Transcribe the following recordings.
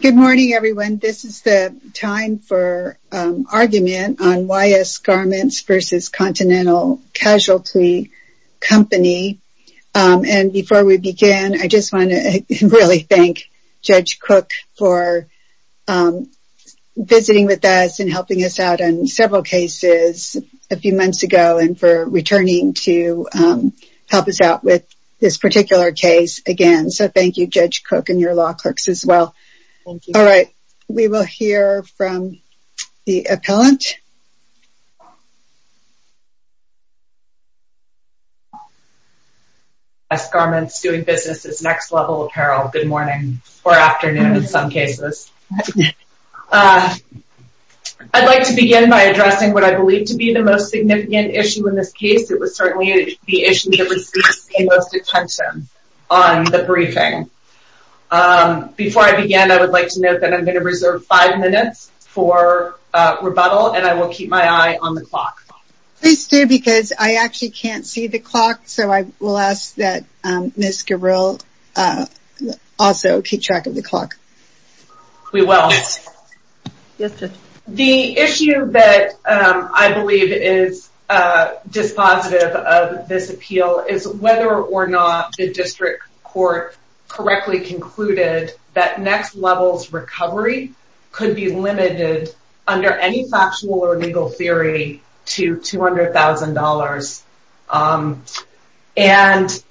Good morning, everyone. This is the time for argument on YS Garments v. Continental Casualty Company. And before we begin, I just want to really thank Judge Cook for visiting with us and helping us out on several cases a few months ago and for returning to help us out with this as well. All right, we will hear from the appellant. YS Garments doing business is next level apparel. Good morning or afternoon in some cases. I'd like to begin by addressing what I believe to be the most significant issue in this case. It was certainly the issue that received the most attention on the briefing. Before I begin, I would like to note that I'm going to reserve five minutes for rebuttal, and I will keep my eye on the clock. Please do because I actually can't see the clock. So I will ask that Ms. Cook respond. We will. The issue that I believe is dispositive of this appeal is whether or not the district court correctly concluded that next level's recovery could be limited under any factual or legal theory to $200,000. And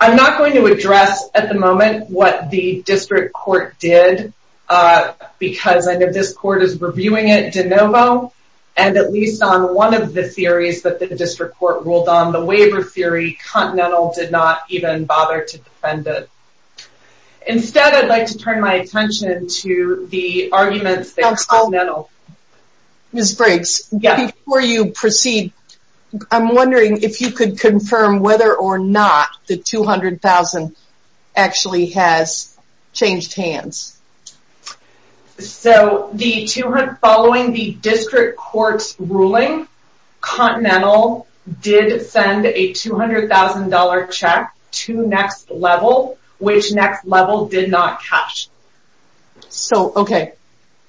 I'm not going to address at the moment what the district court did because I know this court is reviewing it de novo, and at least on one of the theories that the district court ruled on, the waiver theory, Continental did not even bother to defend it. Instead, I'd like to turn my attention to the arguments that Continental. Ms. Briggs, before you proceed, I'm wondering if you could confirm whether or not the $200,000 actually has changed hands. So, following the district court's ruling, Continental did send a $200,000 check to next level, which next level did not catch. So, okay,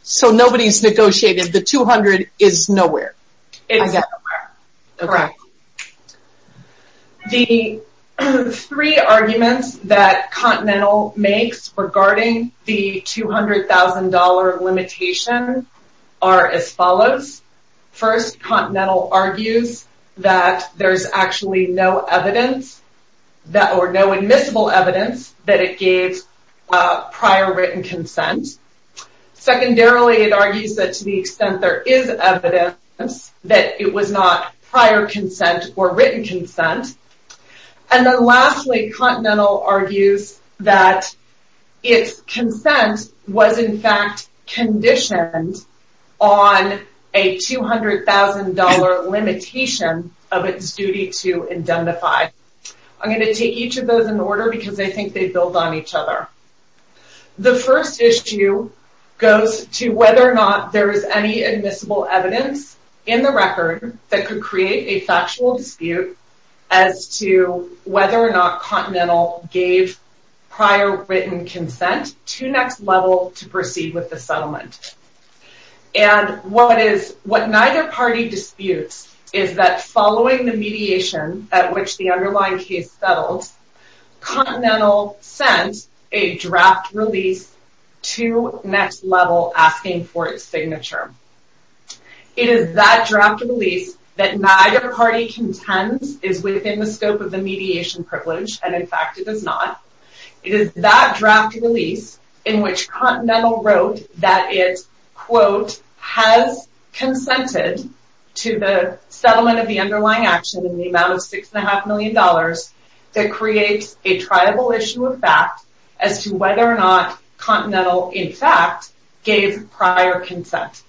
so nobody's negotiated the $200,000 is regarding the $200,000 limitation are as follows. First, Continental argues that there's actually no evidence that or no admissible evidence that it gave prior written consent. Secondarily, it argues that to the extent there is evidence that it was not prior consent or written consent. And then lastly, Continental argues that its consent was in fact conditioned on a $200,000 limitation of its duty to indemnify. I'm going to take each of those in order because I think they build on each other. The first issue goes to whether or not there is any admissible evidence in the record that could create a factual dispute as to whether or not Continental gave prior written consent to next level to proceed with the settlement. And what neither party disputes is that following the mediation at which the underlying case settled, Continental sent a draft release to next level asking for its signature. It is that draft release that neither party contends is within the scope of the mediation privilege. And in fact, it does not. It is that draft release in which Continental wrote that it's quote has consented to the settlement of the underlying action in the amount of $6.5 million that creates a triable issue of fact as to whether or not Continental in fact gave prior consent.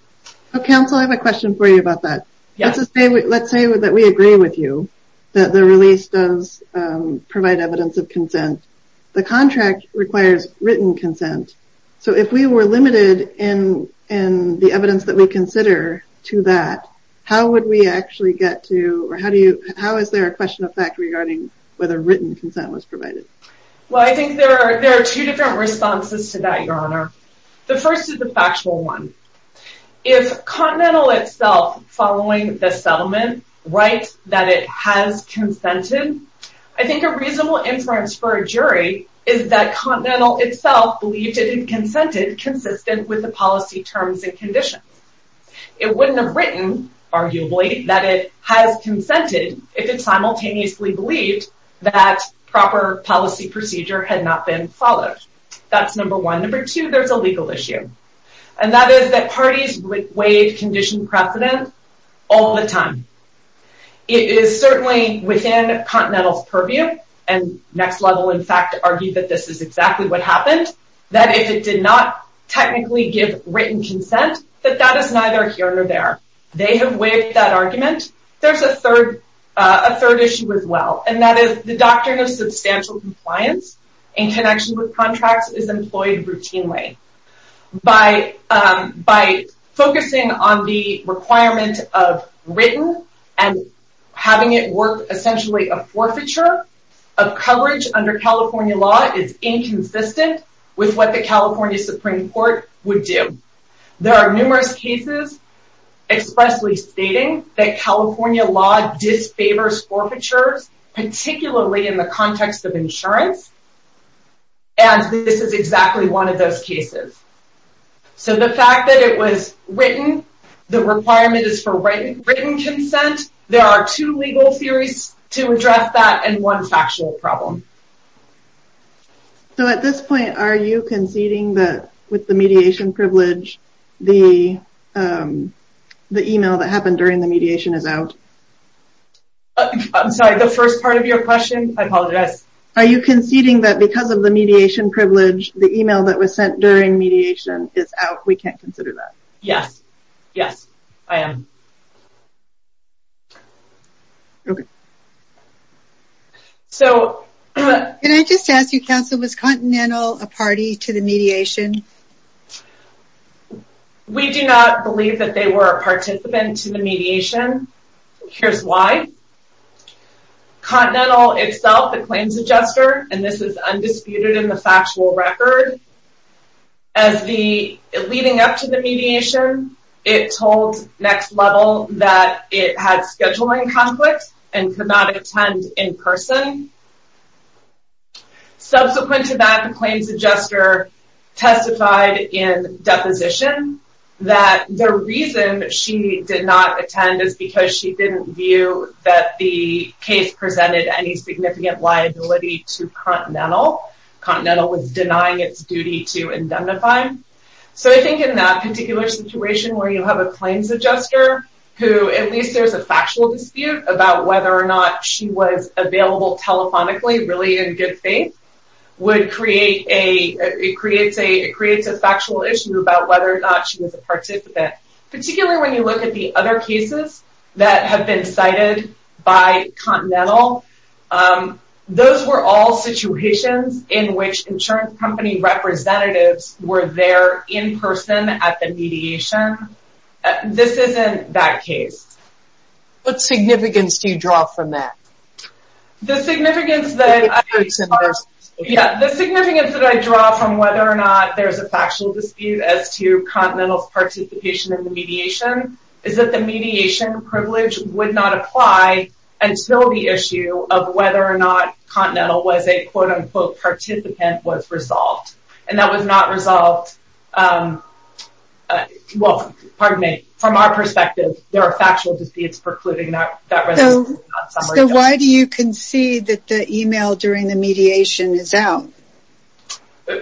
Council, I have a question for you about that. Let's just say, let's say that we agree with you that the release does provide evidence of consent. The contract requires written consent. So if we were limited in the evidence that we consider to that, how would we actually get to, or how do you, how is there a question of fact regarding whether written consent was provided? Well, I think there are two different responses to that, Your Honor. The first is the actual one. If Continental itself following the settlement writes that it has consented, I think a reasonable inference for a jury is that Continental itself believed it consented consistent with the policy terms and conditions. It wouldn't have written, arguably, that it has consented if it simultaneously believed that proper policy procedure had not been followed. That's number one. Number two, there's a legal issue, and that is that parties would waive condition precedent all the time. It is certainly within Continental's purview, and Next Level in fact argued that this is exactly what happened, that if it did not technically give written consent, that that is neither here nor there. They have waived that argument. There's a third issue as employed routinely. By focusing on the requirement of written and having it work essentially a forfeiture of coverage under California law is inconsistent with what the California Supreme Court would do. There are numerous cases expressly stating that California law disfavors forfeitures, particularly in the context of insurance, and this is exactly one of those cases. So the fact that it was written, the requirement is for written consent, there are two legal theories to address that and one factual problem. So at this point, are you conceding that with the mediation privilege, the email that happened during the mediation is out? I'm sorry, the first part of your question? I apologize. Are you conceding that because of the mediation privilege, the email that was sent during mediation is out? We can't consider that? Yes. Yes, I am. Okay. So... Can I just ask you, counsel, was Continental a party to the mediation? We do not believe that they were a participant to the mediation. Here's why. Continental itself, the claims adjuster, and this is undisputed in the factual record, as the leading up to the mediation, it told Next Level that it had scheduling conflicts and could not attend in person. Subsequent to that, the claims adjuster tested in deposition that the reason she did not attend is because she didn't view that the case presented any significant liability to Continental. Continental was denying its duty to indemnify. So I think in that particular situation where you have a claims adjuster who, at least there's a factual dispute about whether or not she was a participant, particularly when you look at the other cases that have been cited by Continental, those were all situations in which insurance company representatives were there in person at the mediation. This isn't that case. What significance do you draw from that? The significance that I draw from whether or not there's a factual dispute as to Continental's participation in the mediation is that the mediation privilege would not apply until the issue of whether or not Continental was a quote-unquote participant was resolved. And that was not resolved, well, pardon me, from our perspective, there are factual disputes precluding that. So why do you concede that the email during the mediation is out?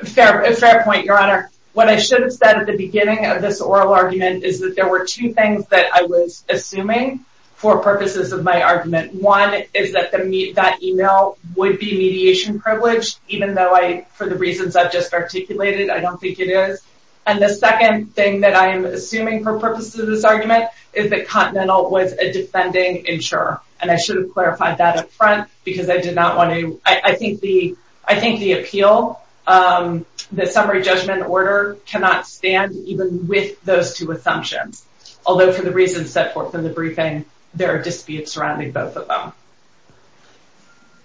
Fair point, your honor. What I should have said at the beginning of this oral argument is that there were two things that I was assuming for purposes of my argument. One is that that email would be mediation privilege, even though I, for the reasons I've just articulated, I don't think it is. And the second thing that I am assuming for purposes of this argument is that Continental was a defending insurer. And I should have clarified that up front because I did not want to, I think the appeal, the summary judgment order cannot stand even with those two assumptions. Although for the reasons set forth in the briefing, there are disputes surrounding both of them.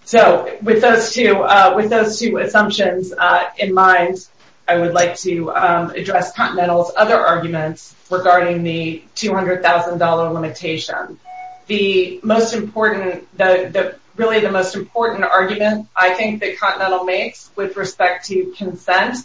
So with those two assumptions in mind, I would like to address Continental's other arguments regarding the $200,000 limitation. The most important, really the most important argument I think that Continental makes with respect to consent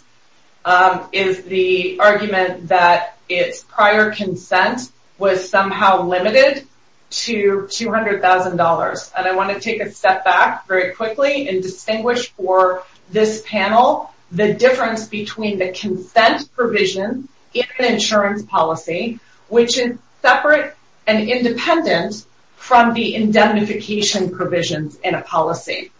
is the argument that its prior consent was somehow limited to $200,000. And I want to take a step back very quickly and distinguish for this panel the difference between the consent provision in an insurance policy, which is separate and independent from the indemnification provisions in a policy.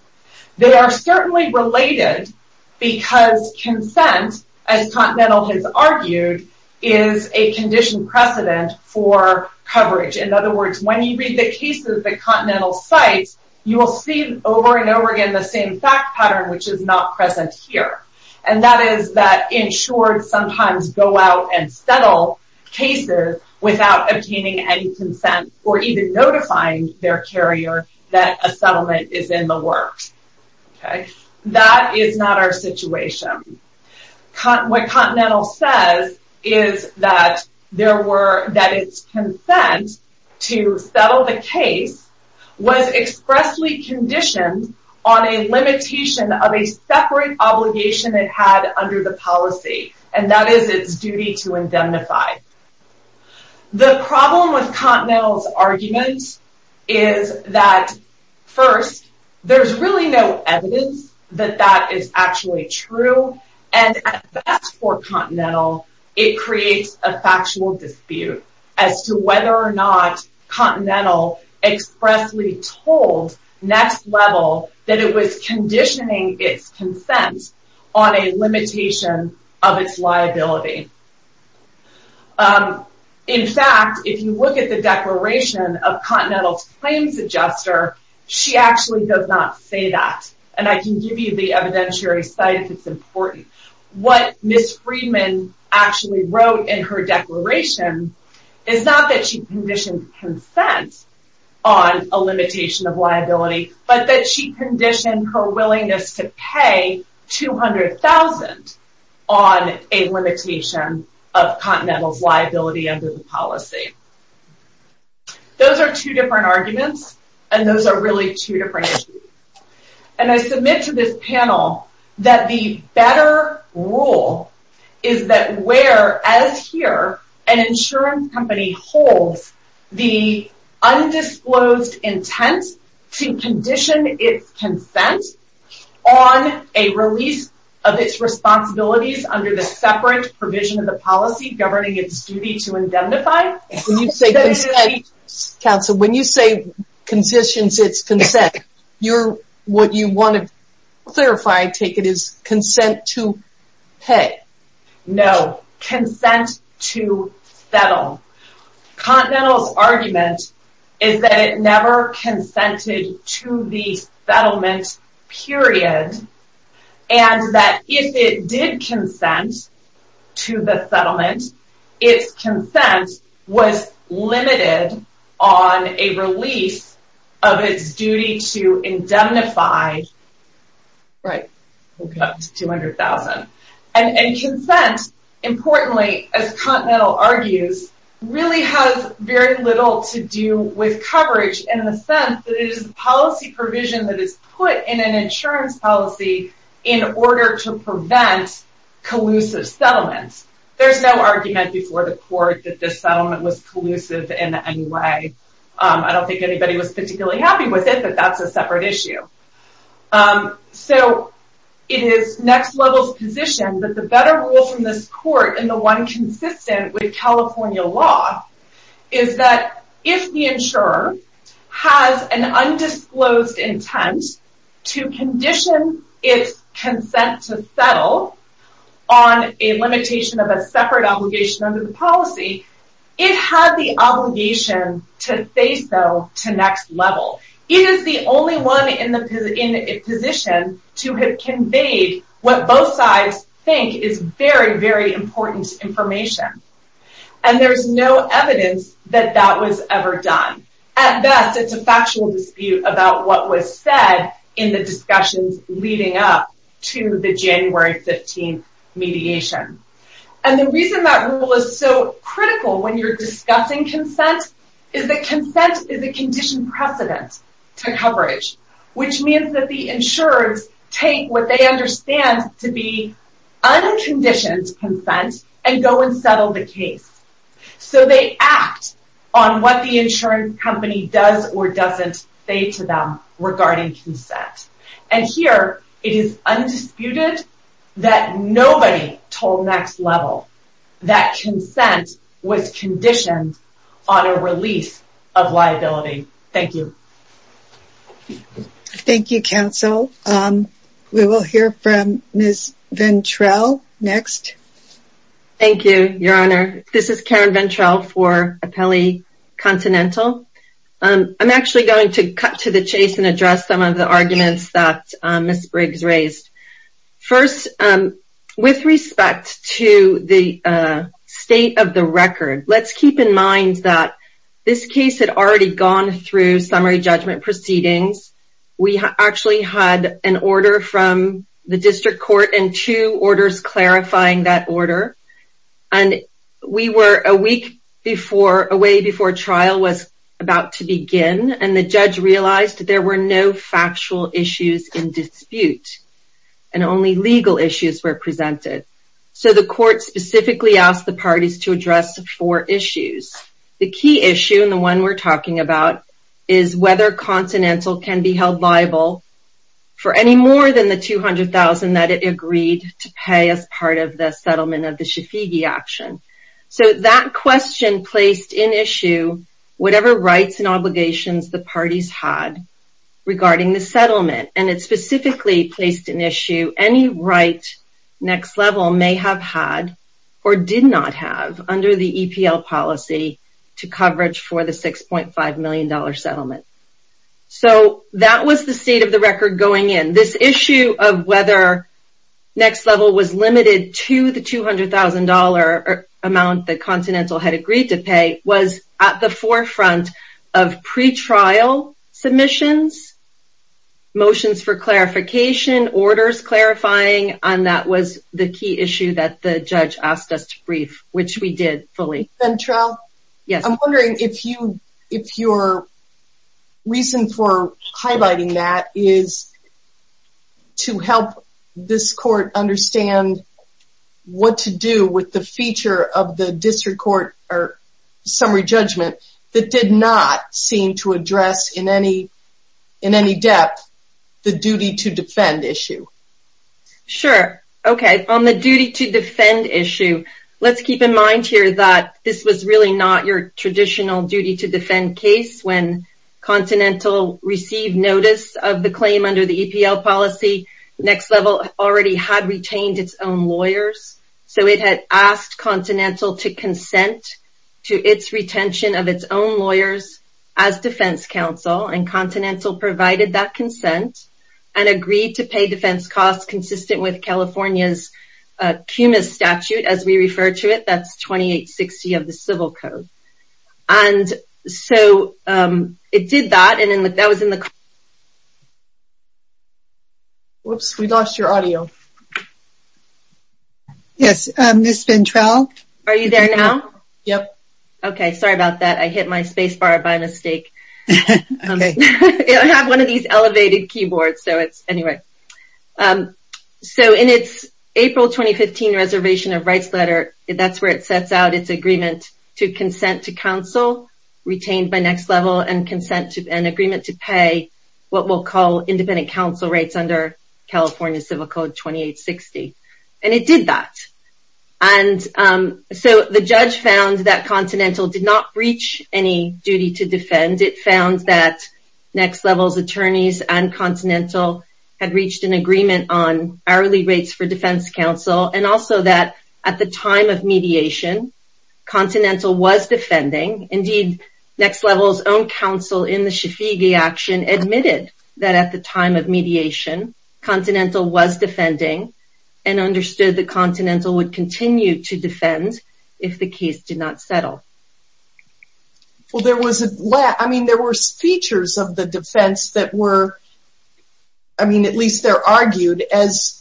They are certainly related because consent, as Continental has argued, is a condition precedent for coverage. In other words, when you read the cases that Continental cites, you will see over and over again the same fact which is not present here. And that is that insured sometimes go out and settle cases without obtaining any consent or even notifying their carrier that a settlement is in the works. That is not our situation. What Continental says is that there were, that its consent to settle the case was expressly conditioned on a limitation of a separate obligation it had under the policy. And that is its duty to indemnify. The problem with Continental's argument is that first, there's really no evidence that that is actually true. And at best for Continental, it creates a factual dispute as to whether or not Continental expressly told next level that it was conditioning its consent on a limitation of its liability. In fact, if you look at the declaration of Continental's claims adjuster, she actually does not say that. And I can give you the evidentiary site if it's important. What Ms. Friedman actually wrote in her declaration is not that she conditioned consent on a limitation of liability, but that she conditioned her willingness to pay $200,000 on a limitation of Continental's liability under the policy. Those are two different arguments and those are really two different issues. And I submit to this panel that the better rule is that where, as here, an insurance company holds the undisclosed intent to condition its consent on a release of its responsibilities under the separate provision of the policy governing its duty to indemnify. When you say consent, counsel, when you say conditions its consent, what you want to clarify, I take it, is consent to pay. No, consent to settle. Continental's argument is that it never consented to the settlement period and that if it did consent to the settlement, its consent was limited on a release of its duty to indemnify $200,000. And consent, importantly, as Continental argues, really has very little to do with coverage in the sense that it is policy provision that is put in an insurance policy in order to prevent collusive settlements. There's no argument before the court that this settlement was collusive in any way. I don't think anybody was particularly happy with it, but that's a separate issue. So, it is next level's position that the better rule from this insurer has an undisclosed intent to condition its consent to settle on a limitation of a separate obligation under the policy, it had the obligation to say so to next level. It is the only one in a position to have conveyed what both sides think is very, very important information. And there's no evidence that that was ever done. At best, it's a factual dispute about what was said in the discussions leading up to the January 15th mediation. And the reason that rule is so critical when you're discussing consent is that consent is a conditioned precedent to coverage, which means that the insurers take what they understand to be unconditioned consent and go and settle the case. So, they act on what the insurance company does or doesn't say to them regarding consent. And here, it is undisputed that nobody told next level that consent was conditioned on a release of liability. Thank you. Thank you, counsel. We will hear from Ms. Ventrell next. Thank you, your honor. This is Karen Ventrell for Apelli Continental. I'm actually going to cut to the chase and address some of the arguments that Ms. Briggs raised. First, with respect to the state of the record, let's keep in mind that this case had already gone through summary judgment proceedings. We actually had an order from the district court and two orders clarifying that order. And we were a week away before trial was about to begin, and the judge realized there were no factual issues in dispute, and only legal issues were presented. So, the court specifically asked the parties to address four issues. The key issue, the one we're talking about, is whether Continental can be held liable for any more than the $200,000 that it agreed to pay as part of the settlement of the Shafigi action. So, that question placed in issue whatever rights and obligations the parties had regarding the settlement. And it specifically placed in issue any right next level may have had or did not have under the EPL policy to coverage for the $6.5 million settlement. So, that was the state of the record going in. This issue of whether next level was limited to the $200,000 amount that Continental had agreed to pay was at the forefront of pretrial submissions, motions for clarification, orders clarifying, and that was the key issue that the judge asked us to brief, which we did fully. I'm wondering if your reason for highlighting that is to help this court understand what to do with the feature of the district court summary judgment that did not seem to address in any depth the duty to defend issue. Sure. Okay. On the duty to defend issue, let's keep in mind here that this was really not your traditional duty to defend case. When Continental received notice of the claim under the EPL policy, next level already had retained its own lawyers. So, it had asked Continental to consent to its retention of its own lawyers as defense counsel and Continental provided that consent and agreed to pay defense costs consistent with California's CUMA statute, as we refer to it. That's 2860 of the civil code. And so, it did that and that was in the... Whoops, we lost your audio. Yes, Ms. Ventrell? Are you there now? Yep. Okay, sorry about that. I hit my space bar by mistake. Okay. I have one of these elevated keyboards, so it's... Anyway. So, in its April 2015 reservation of rights letter, that's where it sets out its agreement to consent to counsel retained by next level and consent to an agreement to pay what we'll call independent counsel rates under California Civil Code 2860. And it did that. And so, the judge found that Continental did not breach any duty to defend. It found that next level's attorneys and Continental had reached an agreement on hourly rates for defense counsel and also that at the time of mediation, Continental was defending. Indeed, next level's own counsel in the Shafiqi action admitted that at the time of mediation, Continental was defending and understood that Continental would continue to defend if the case did not settle. Well, there was a... I mean, there were features of the defense that were... I mean, at least they're argued as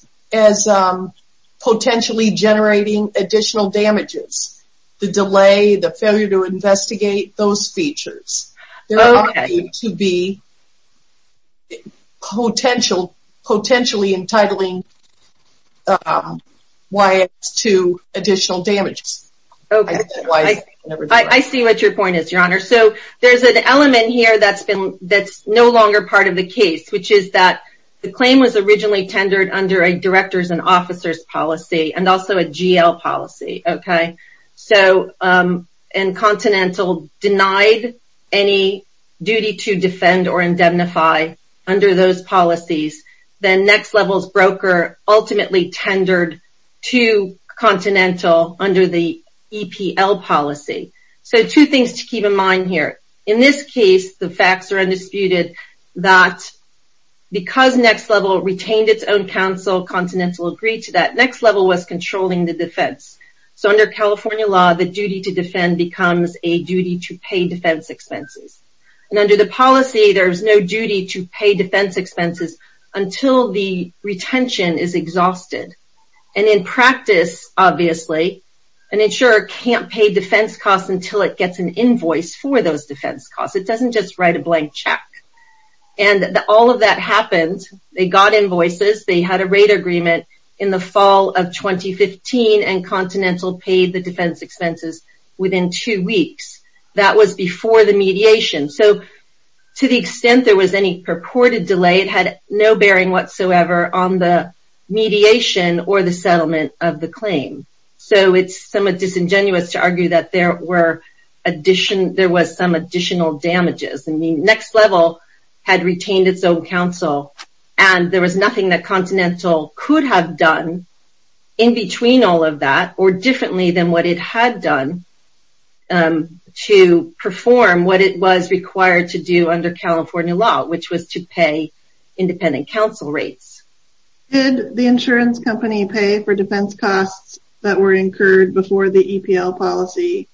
potentially generating additional damages. The delay, the failure to investigate, those features. They're argued to be potentially entitling YS to additional damages. I see what your point is, Your Honor. So, there's an element here that's no longer part of the case, which is that the claim was originally tendered under a director's and officer's policy and also a GL policy, okay? So, and Continental denied any duty to defend or indemnify under those policies. Then next level's broker ultimately tendered to Continental under the EPL policy. So, two things to keep in mind here. In this case, the facts are undisputed that because next level retained its own counsel, Continental agreed to that. Next level was controlling the defense. So, under California law, the duty to defend becomes a duty to pay defense expenses. And under the policy, there's no duty to pay defense expenses until the retention is exhausted. And in practice, obviously, an insurer can't pay defense costs until it gets an invoice for those defense costs. It doesn't just write a blank check. And all of that happened, they got invoices, they had a rate agreement in the fall of 2015, and Continental paid the defense expenses within two weeks. That was before the mediation. So, to the extent there was any purported delay, it had no bearing whatsoever on the mediation or the settlement of the claim. So, it's somewhat disingenuous to argue that there was some additional damages. I mean, next level had retained its own counsel, and there was nothing that Continental could have done in between all of that or differently than what it had done to perform what it was required to do under California law, which was to pay independent counsel rates. Did the insurance company pay for defense costs that were incurred before the EPL policy,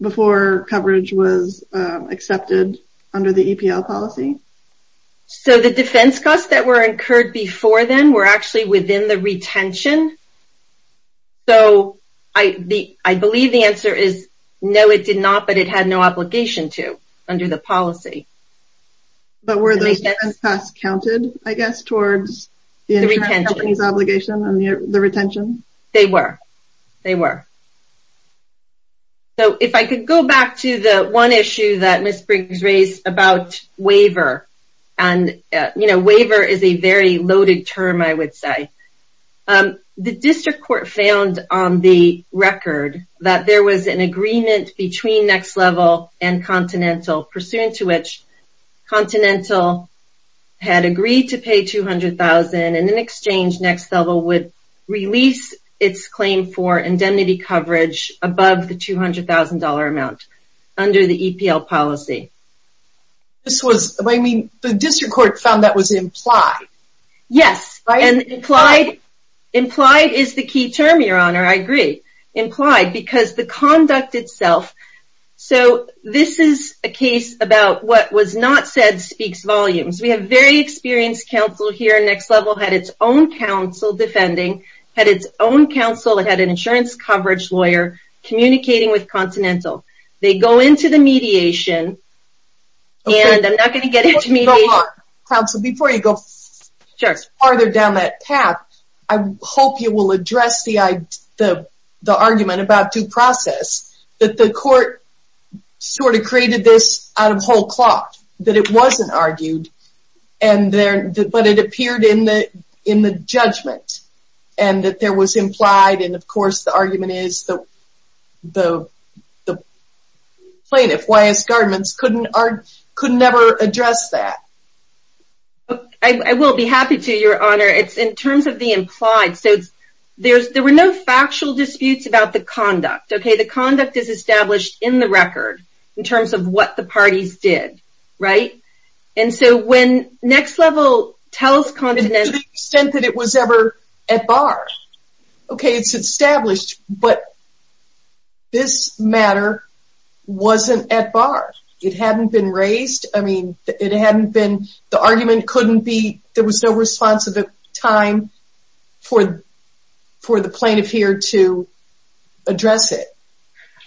before coverage was accepted under the EPL policy? So, the defense costs that were incurred before then were actually within the retention. So, I believe the answer is no, it did not, but it had no obligation to under the policy. But were those defense costs counted, I guess, towards the insurance company's obligation and the retention? They were, they were. So, if I could go back to the one issue that Ms. Briggs raised about waiver, and, you know, waiver is a very loaded term, I would say. The district court found on the record that there was an agreement between Next Level and Continental, pursuant to which Continental had agreed to pay $200,000, and in exchange, Next Level would release its claim for indemnity coverage above the $200,000 amount under the EPL policy. This was, I mean, the district court found that was implied. Yes, and implied, implied is the key term, your honor, I agree. Implied, because the conduct itself, so this is a case about what was not said speaks volumes. We have very experienced counsel here, Next Level had its own counsel defending, had its own counsel, it had an insurance coverage lawyer, communicating with Continental. They go into the mediation, and I'm not going to get into mediation. Counsel, before you go farther down that path, I hope you will address the argument about due process, that the court sort of created this out of whole cloth, that it wasn't argued, but it appeared in the judgment, and that there was implied, and of course, the argument is the plaintiff, Wyeth Garments, could never address that. I will be happy to, your honor. It's in terms of the implied, so there were no factual disputes about the conduct, okay? The conduct is established in the record, in terms of what the parties did, right? And so, when Next Level tells Continental... To the extent that it was ever at bar, okay? It's established, but this matter wasn't at bar. It hadn't been raised, I mean, it hadn't been, the argument couldn't be, there was no responsive time for the plaintiff here to address it.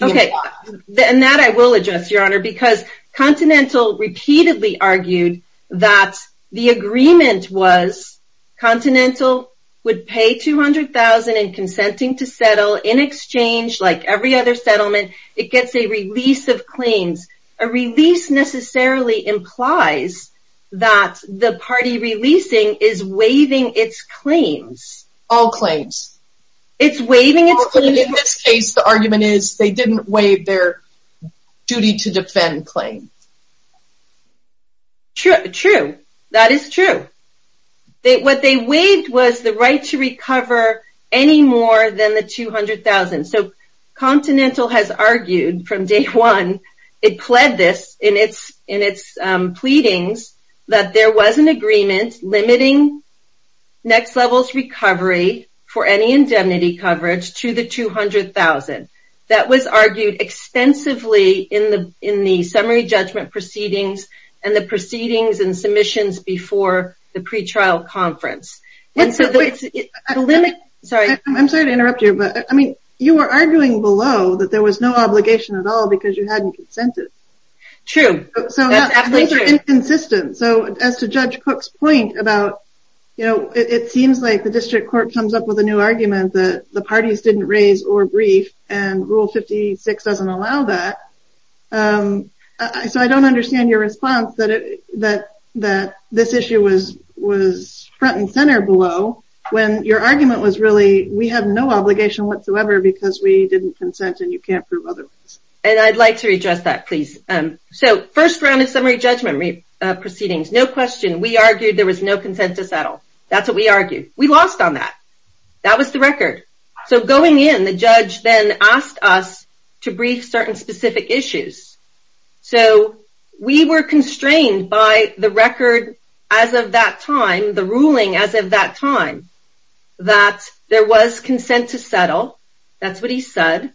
Okay, and that I will address, your honor, because Continental repeatedly argued that the agreement was, Continental would pay $200,000 in consenting to settle, in exchange, like every other settlement, it gets a release of claims, a release necessarily implies that the party releasing is waiving its claims. All claims. It's waiving its claims. In this case, the argument is, they didn't waive their duty to defend claim. True, that is true. What they waived was the right to recover any more than the $200,000, so Continental has argued from day one, it pled this in its pleadings, that there was an agreement limiting Next Level's recovery for any indemnity coverage to the $200,000. That was argued extensively in the summary judgment proceedings, and the proceedings and submissions before the pretrial conference. I'm sorry to interrupt you, but, I mean, you were arguing below that there was no obligation at all because you hadn't consented. True, that's absolutely true. Inconsistent, so as to Judge Cook's point about, you know, it seems like the district court comes up with a new argument that the parties didn't raise or brief, and Rule 56 doesn't allow that, so I don't understand your response that this issue was front and center below, when your argument was really, we have no obligation whatsoever because we didn't consent and you can't prove otherwise. And I'd like to redress that, please. So first round of summary judgment proceedings, no question, we argued there was no consensus at all. That's what we argued. We lost on that. That was the record. So going in, the judge then asked us to brief certain issues. So we were constrained by the record as of that time, the ruling as of that time, that there was consent to settle. That's what he said.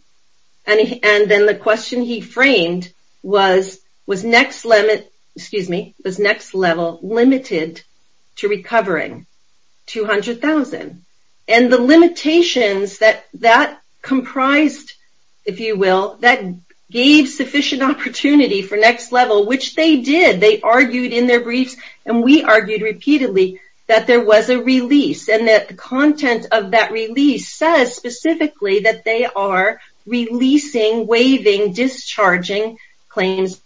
And then the question he framed was, was next limit, excuse me, was next level limited to recovering $200,000. And the limitations that comprised, if you will, that gave sufficient opportunity for next level, which they did, they argued in their briefs, and we argued repeatedly that there was a release and that the content of that release says specifically that they are releasing, waiving, discharging claims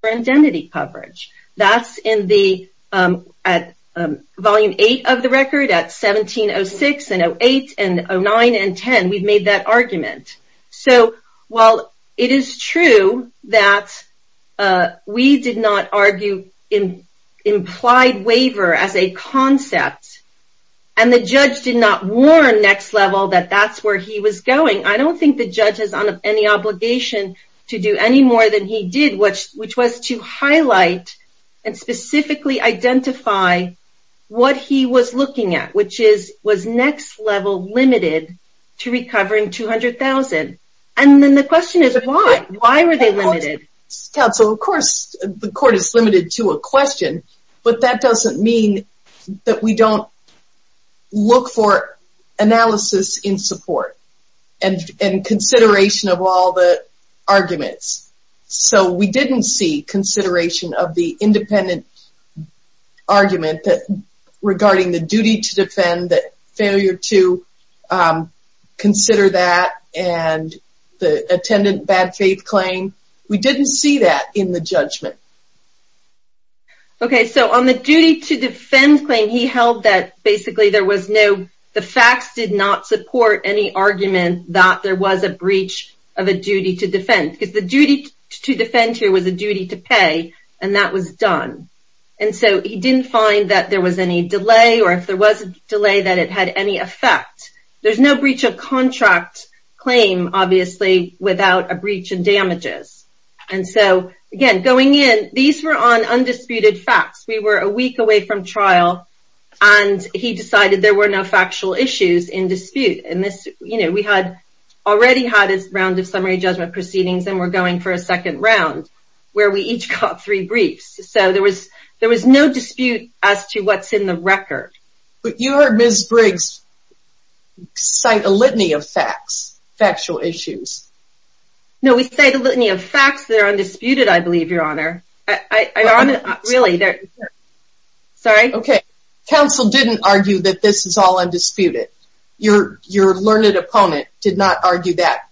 for identity coverage. That's in the, at volume eight of the record at 1706 and 08 and 09 and 10, we've made that argument. So while it is true that we did not argue implied waiver as a concept and the judge did not warn next level that that's where he was going, I don't think the judge has any obligation to do any more than he did, which was to highlight and specifically identify what he was looking at, which is, was next level limited to recovering $200,000. And then the question is why? Why were they limited? Counsel, of course the court is limited to a question, but that doesn't mean that we don't look for analysis in support and consideration of all the arguments. So we didn't see consideration of the independent argument that regarding the duty to defend that failure to consider that and the attendant bad faith claim. We didn't see that in the judgment. Okay. So on the duty to defend claim, he held that basically there was no, the facts did not support any argument that there was a breach of a duty to defend because the duty to defend here was a duty to pay and that was done. And so he didn't find that there was any delay or if there was a delay that it had any effect. There's no breach of contract claim, obviously without a breach and these were on undisputed facts. We were a week away from trial and he decided there were no factual issues in dispute. And this, you know, we had already had his round of summary judgment proceedings and we're going for a second round where we each got three briefs. So there was, there was no dispute as to what's in the record. But you heard Ms. Briggs cite a litany of facts, factual issues. No, we say the litany of facts that are on it. Really. Sorry. Okay. Counsel didn't argue that this is all undisputed. Your learned opponent did not argue that.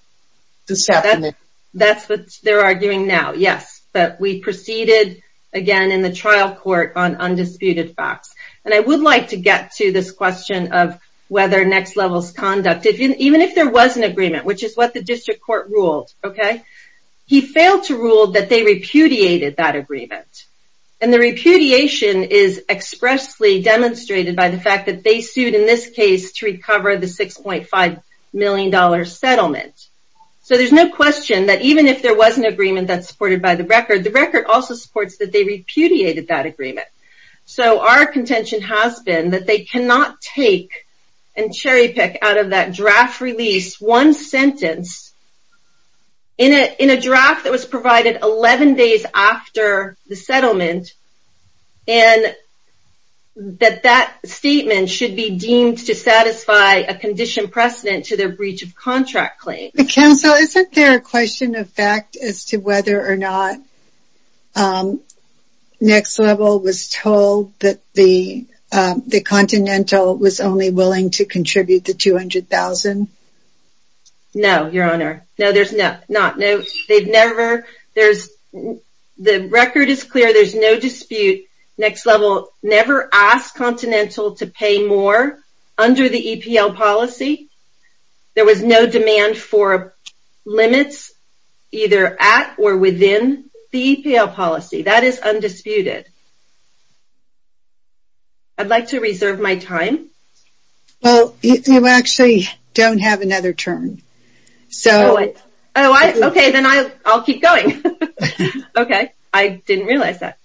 That's what they're arguing now. Yes. But we proceeded again in the trial court on undisputed facts. And I would like to get to this question of whether next levels conduct, even if there was an agreement, which is what the district court ruled. Okay. He failed to rule that they repudiated that agreement. And the repudiation is expressly demonstrated by the fact that they sued in this case to recover the $6.5 million settlement. So there's no question that even if there was an agreement that's supported by the record, the record also supports that they repudiated that agreement. So our contention has been that they cannot take and cherry pick out of that draft release one sentence in a draft that was provided 11 days after the settlement. And that that statement should be deemed to satisfy a condition precedent to their breach of contract claim. Counsel, isn't there a question of fact as to whether or not Next Level was told that the Continental was only willing to contribute the $200,000? No, Your Honor. No, there's not. No, they've never, there's, the record is clear. There's no dispute. Next Level never asked Continental to pay more under the EPL policy. There was no demand for limits either at or within the EPL policy. That is undisputed. I'd like to reserve my time. Well, you actually don't have another turn. So, oh, okay, then I'll keep going. Okay. I didn't realize that.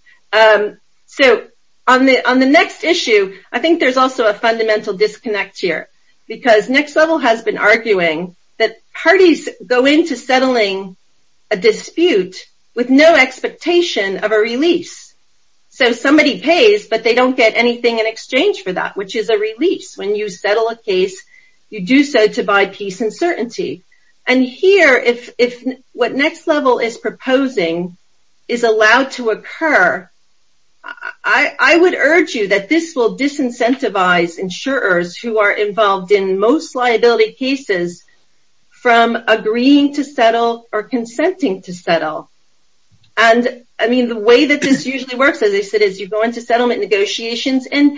So on the next issue, I think there's also a fundamental disconnect here, because Next Level has been arguing that parties go into settling a dispute with no expectation of a release. So somebody pays, but they don't get anything in exchange for that, which is a release. When you settle a case, you do so to buy peace and certainty. And here, if what Next Level is proposing is allowed to occur, I would urge you that this will disincentivize insurers who are involved in most liability cases from agreeing to settle or consenting to settle. And, I mean, the way that this usually works, as I said, is you go into settlement negotiations, and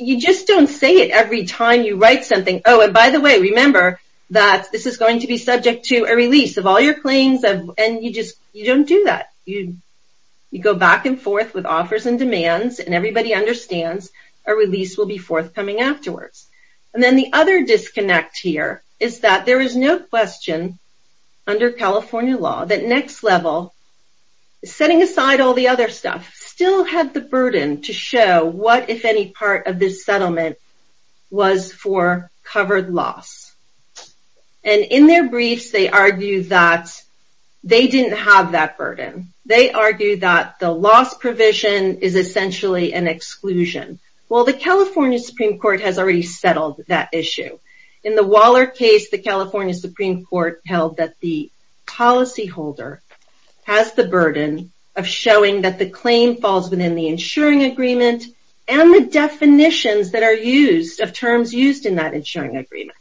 you just don't say it every time you write something. Oh, and by the way, remember that this is going to be subject to a release of all your claims, and you just don't do that. You go back and forth with offers and demands, and everybody understands a release will be forthcoming afterwards. And then the other disconnect here is that there is no question under California law that Next Level, setting aside all the other stuff, still have the burden to show what, if any, part of this settlement was for covered loss. And in their briefs, they argue that they didn't have that burden. They argue that the loss provision is essentially an exclusion. Well, the California Supreme Court has already settled that issue. In the Waller case, the California Supreme Court held that the policyholder has the burden of showing that the claim falls within the insuring agreement and the definitions that are used of terms used in that insuring agreement.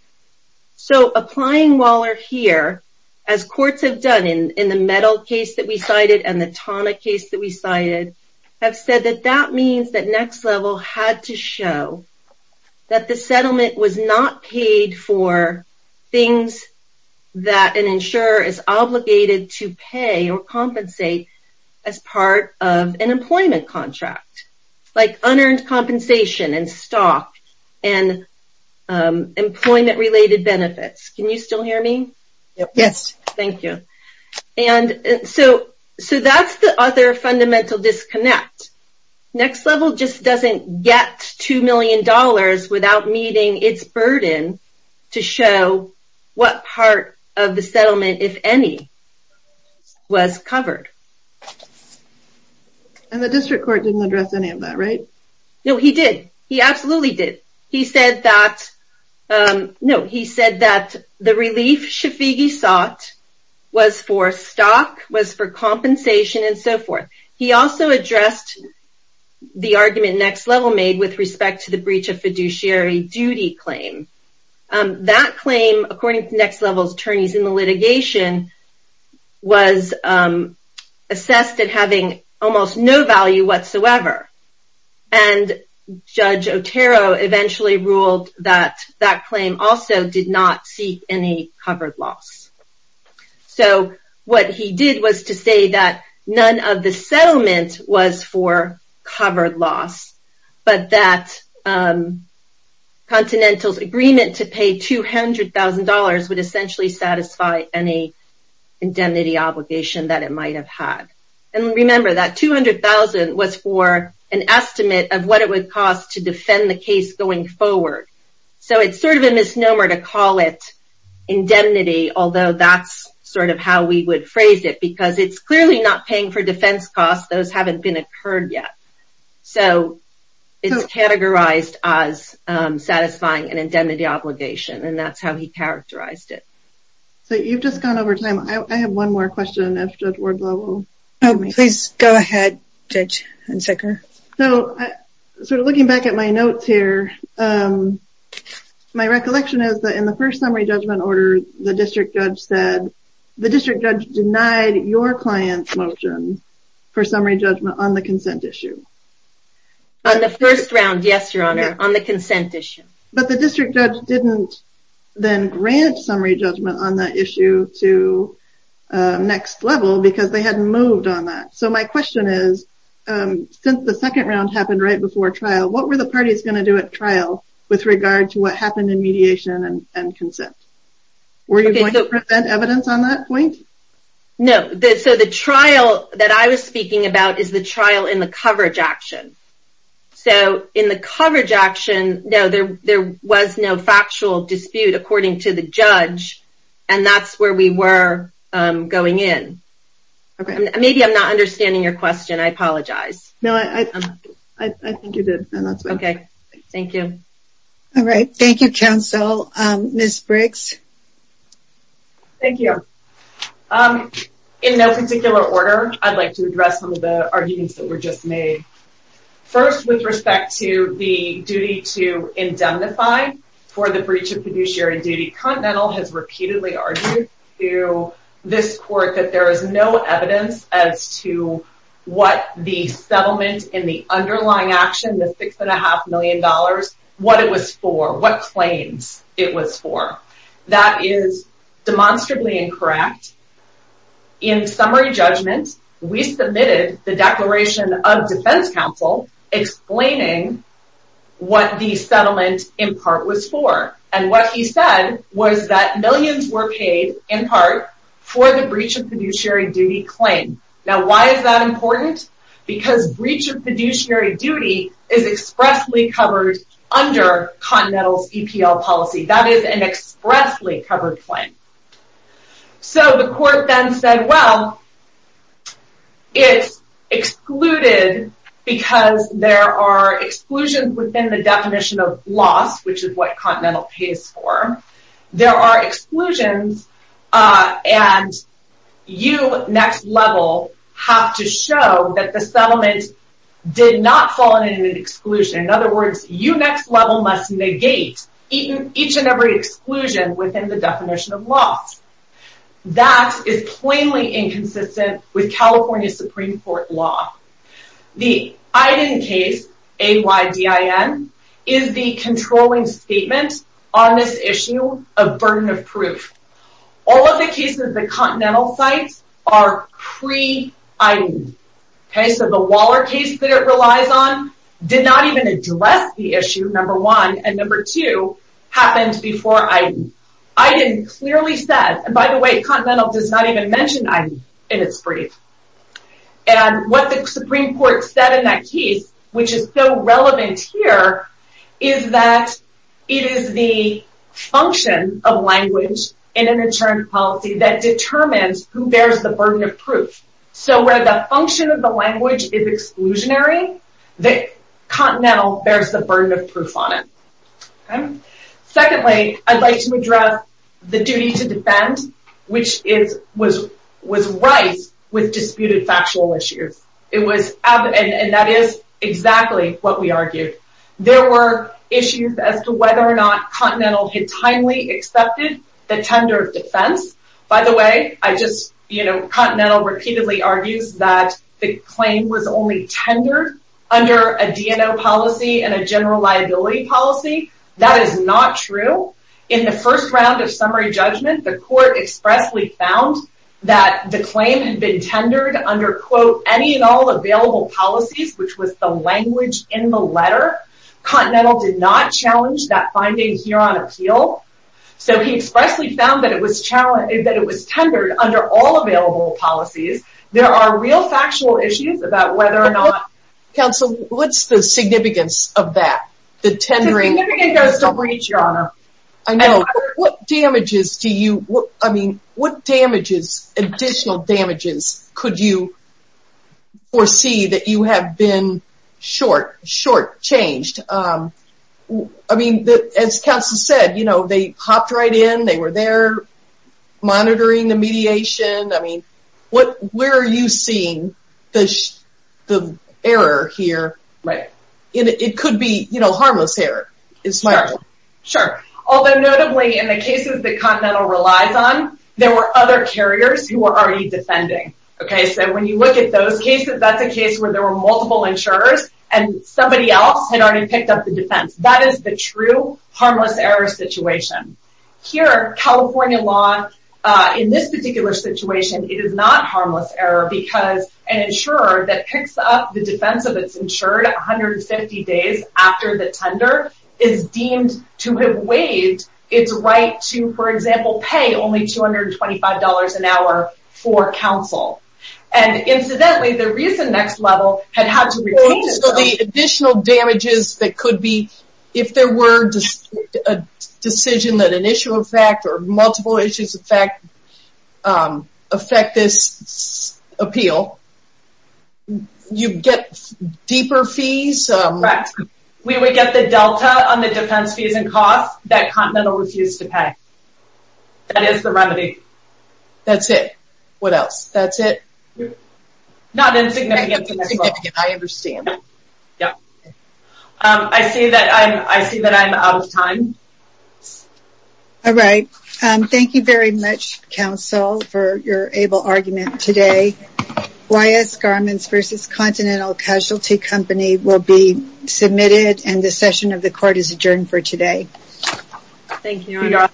So, applying Waller here, as courts have done in the Mettle case that we cited and the Tana case that we cited, have said that that means that Next Level had to show that the settlement was not paid for things that an insurer is obligated to pay or compensate as part of an employment contract, like unearned compensation and stock and employment-related benefits. Can you still hear me? Yes. Thank you. So, that's the other fundamental disconnect. Next Level just doesn't get $2 million without meeting its burden to show what part of the settlement, if any, was covered. And the District Court didn't address any of that, right? No, he did. He absolutely did. He said that the relief Shafigi sought was for stock, was for compensation, and so forth. He also addressed the argument Next Level made with respect to the breach of fiduciary duty claim. That claim, according to Next Level's attorneys in the litigation, was assessed as having almost no value whatsoever. And Judge Otero eventually ruled that that claim also did not seek any covered loss. So, what he did was to say that none of the settlement was for covered loss, but that Continental's agreement to pay $200,000 would essentially satisfy any indemnity obligation that it might have had. And remember, that $200,000 was for an estimate of what it would cost to defend the case going forward. So, it's sort of a misnomer to call it indemnity, although that's sort of how we would phrase it, because it's clearly not paying for defense costs. Those haven't been occurred yet. So, it's categorized as satisfying an indemnity obligation, and that's how he characterized it. So, you've just gone over time. I have one more question, if Judge Ward's level. Oh, please go ahead, Judge Sicker. So, sort of looking back at my notes here, my recollection is that in the first summary judgment order, the district judge said, the district judge denied your client's motion for summary judgment on the consent issue. On the first round, yes, Your Honor, on the consent issue. But the district judge didn't then grant summary judgment on that issue to next level, because they hadn't moved on that. So, my question is, since the second round happened right before trial, what were the parties going to do at trial with regard to what happened in mediation and consent? Were you going to present evidence on that point? No. So, the trial that I was speaking about is the trial in the coverage action. So, in the coverage action, no, there was no factual dispute according to the judge, and that's where we were going in. Maybe I'm not understanding your question. I apologize. No, I think you did. Okay. Thank you. All right. Thank you, counsel. Ms. Briggs. Thank you. In no particular order, I'd like to address some of the arguments that were just made. First, with respect to the duty to indemnify for the breach of fiduciary duty, Continental has repeatedly argued to this court that there is no evidence as to what the settlement in the underlying action, the $6.5 million, what it was for, what claims it was for. That is demonstrably incorrect. In summary judgment, we submitted the declaration of defense counsel explaining what the settlement in part was for, and what he said was that millions were paid in part for the breach of fiduciary duty claim. Now, why is that important? Because breach of fiduciary duty is expressly under Continental's EPL policy. That is an expressly covered claim. So, the court then said, well, it's excluded because there are exclusions within the definition of loss, which is what Continental pays for. There are exclusions, and you, next level, have to show that the settlement did not fall into an exclusion. In other words, you, next level, must negate each and every exclusion within the definition of loss. That is plainly inconsistent with California Supreme Court law. The AIDIN case, A-Y-D-I-N, is the controlling statement on this issue of burden of proof. All of the cases that Continental cites are pre-AIDIN. Okay, so the Waller case that it relies on did not even address the issue, number one, and number two happened before AIDIN. AIDIN clearly said, and by the way, Continental does not even mention AIDIN in its brief, and what the Supreme Court said in that case, which is so relevant here, is that it is the function of language in an insurance policy that determines who bears the burden of proof, so where the function of the language is exclusionary, Continental bears the burden of proof on it. Secondly, I'd like to address the duty to defend, which was right with disputed factual issues, and that is exactly what we argued. There were issues as to whether or not accepted the tender of defense. By the way, Continental repeatedly argues that the claim was only tendered under a DNO policy and a general liability policy. That is not true. In the first round of summary judgment, the court expressly found that the claim had been tendered under, quote, any and all available policies, which was the language in the letter. Continental did not challenge that finding here on appeal, so he expressly found that it was tendered under all available policies. There are real factual issues about whether or not... Counsel, what's the significance of that, the tendering? The significance goes to breach, Your Honor. I know. What damages do you, I mean, what damages, additional damages, could you foresee that you have been short, short changed? I mean, as Counsel said, you know, they hopped right in. They were there monitoring the mediation. I mean, where are you seeing the error here? It could be, you know, harmless error. Sure. Although notably, in the cases that Continental relies on, there were other carriers who were already defending. Okay, so when you look at those cases, that's a case where there were multiple insurers and somebody else had already picked up the defense. That is the true harmless error situation. Here, California law, in this particular situation, it is not harmless error because an insurer that picks up the defense of its insured 150 days after the tender is deemed to have waived its right to, for example, pay only $225 an hour for counsel. And incidentally, the reason Next Level had had to retain... So the additional damages that could be, if there were a decision that an issue of fact or multiple issues of fact affect this appeal, you get deeper fees? Correct. We would get the delta on the defense fees and costs that Continental refused to pay. That is the remedy. That's it. What else? That's it? Not insignificant. I understand. Yeah. I see that I'm out of time. All right. Thank you very much, counsel, for your able argument today. YS Garments versus Continental Casualty Company will be submitted and the session of the court is adjourned for today. Thank you, Your Honor.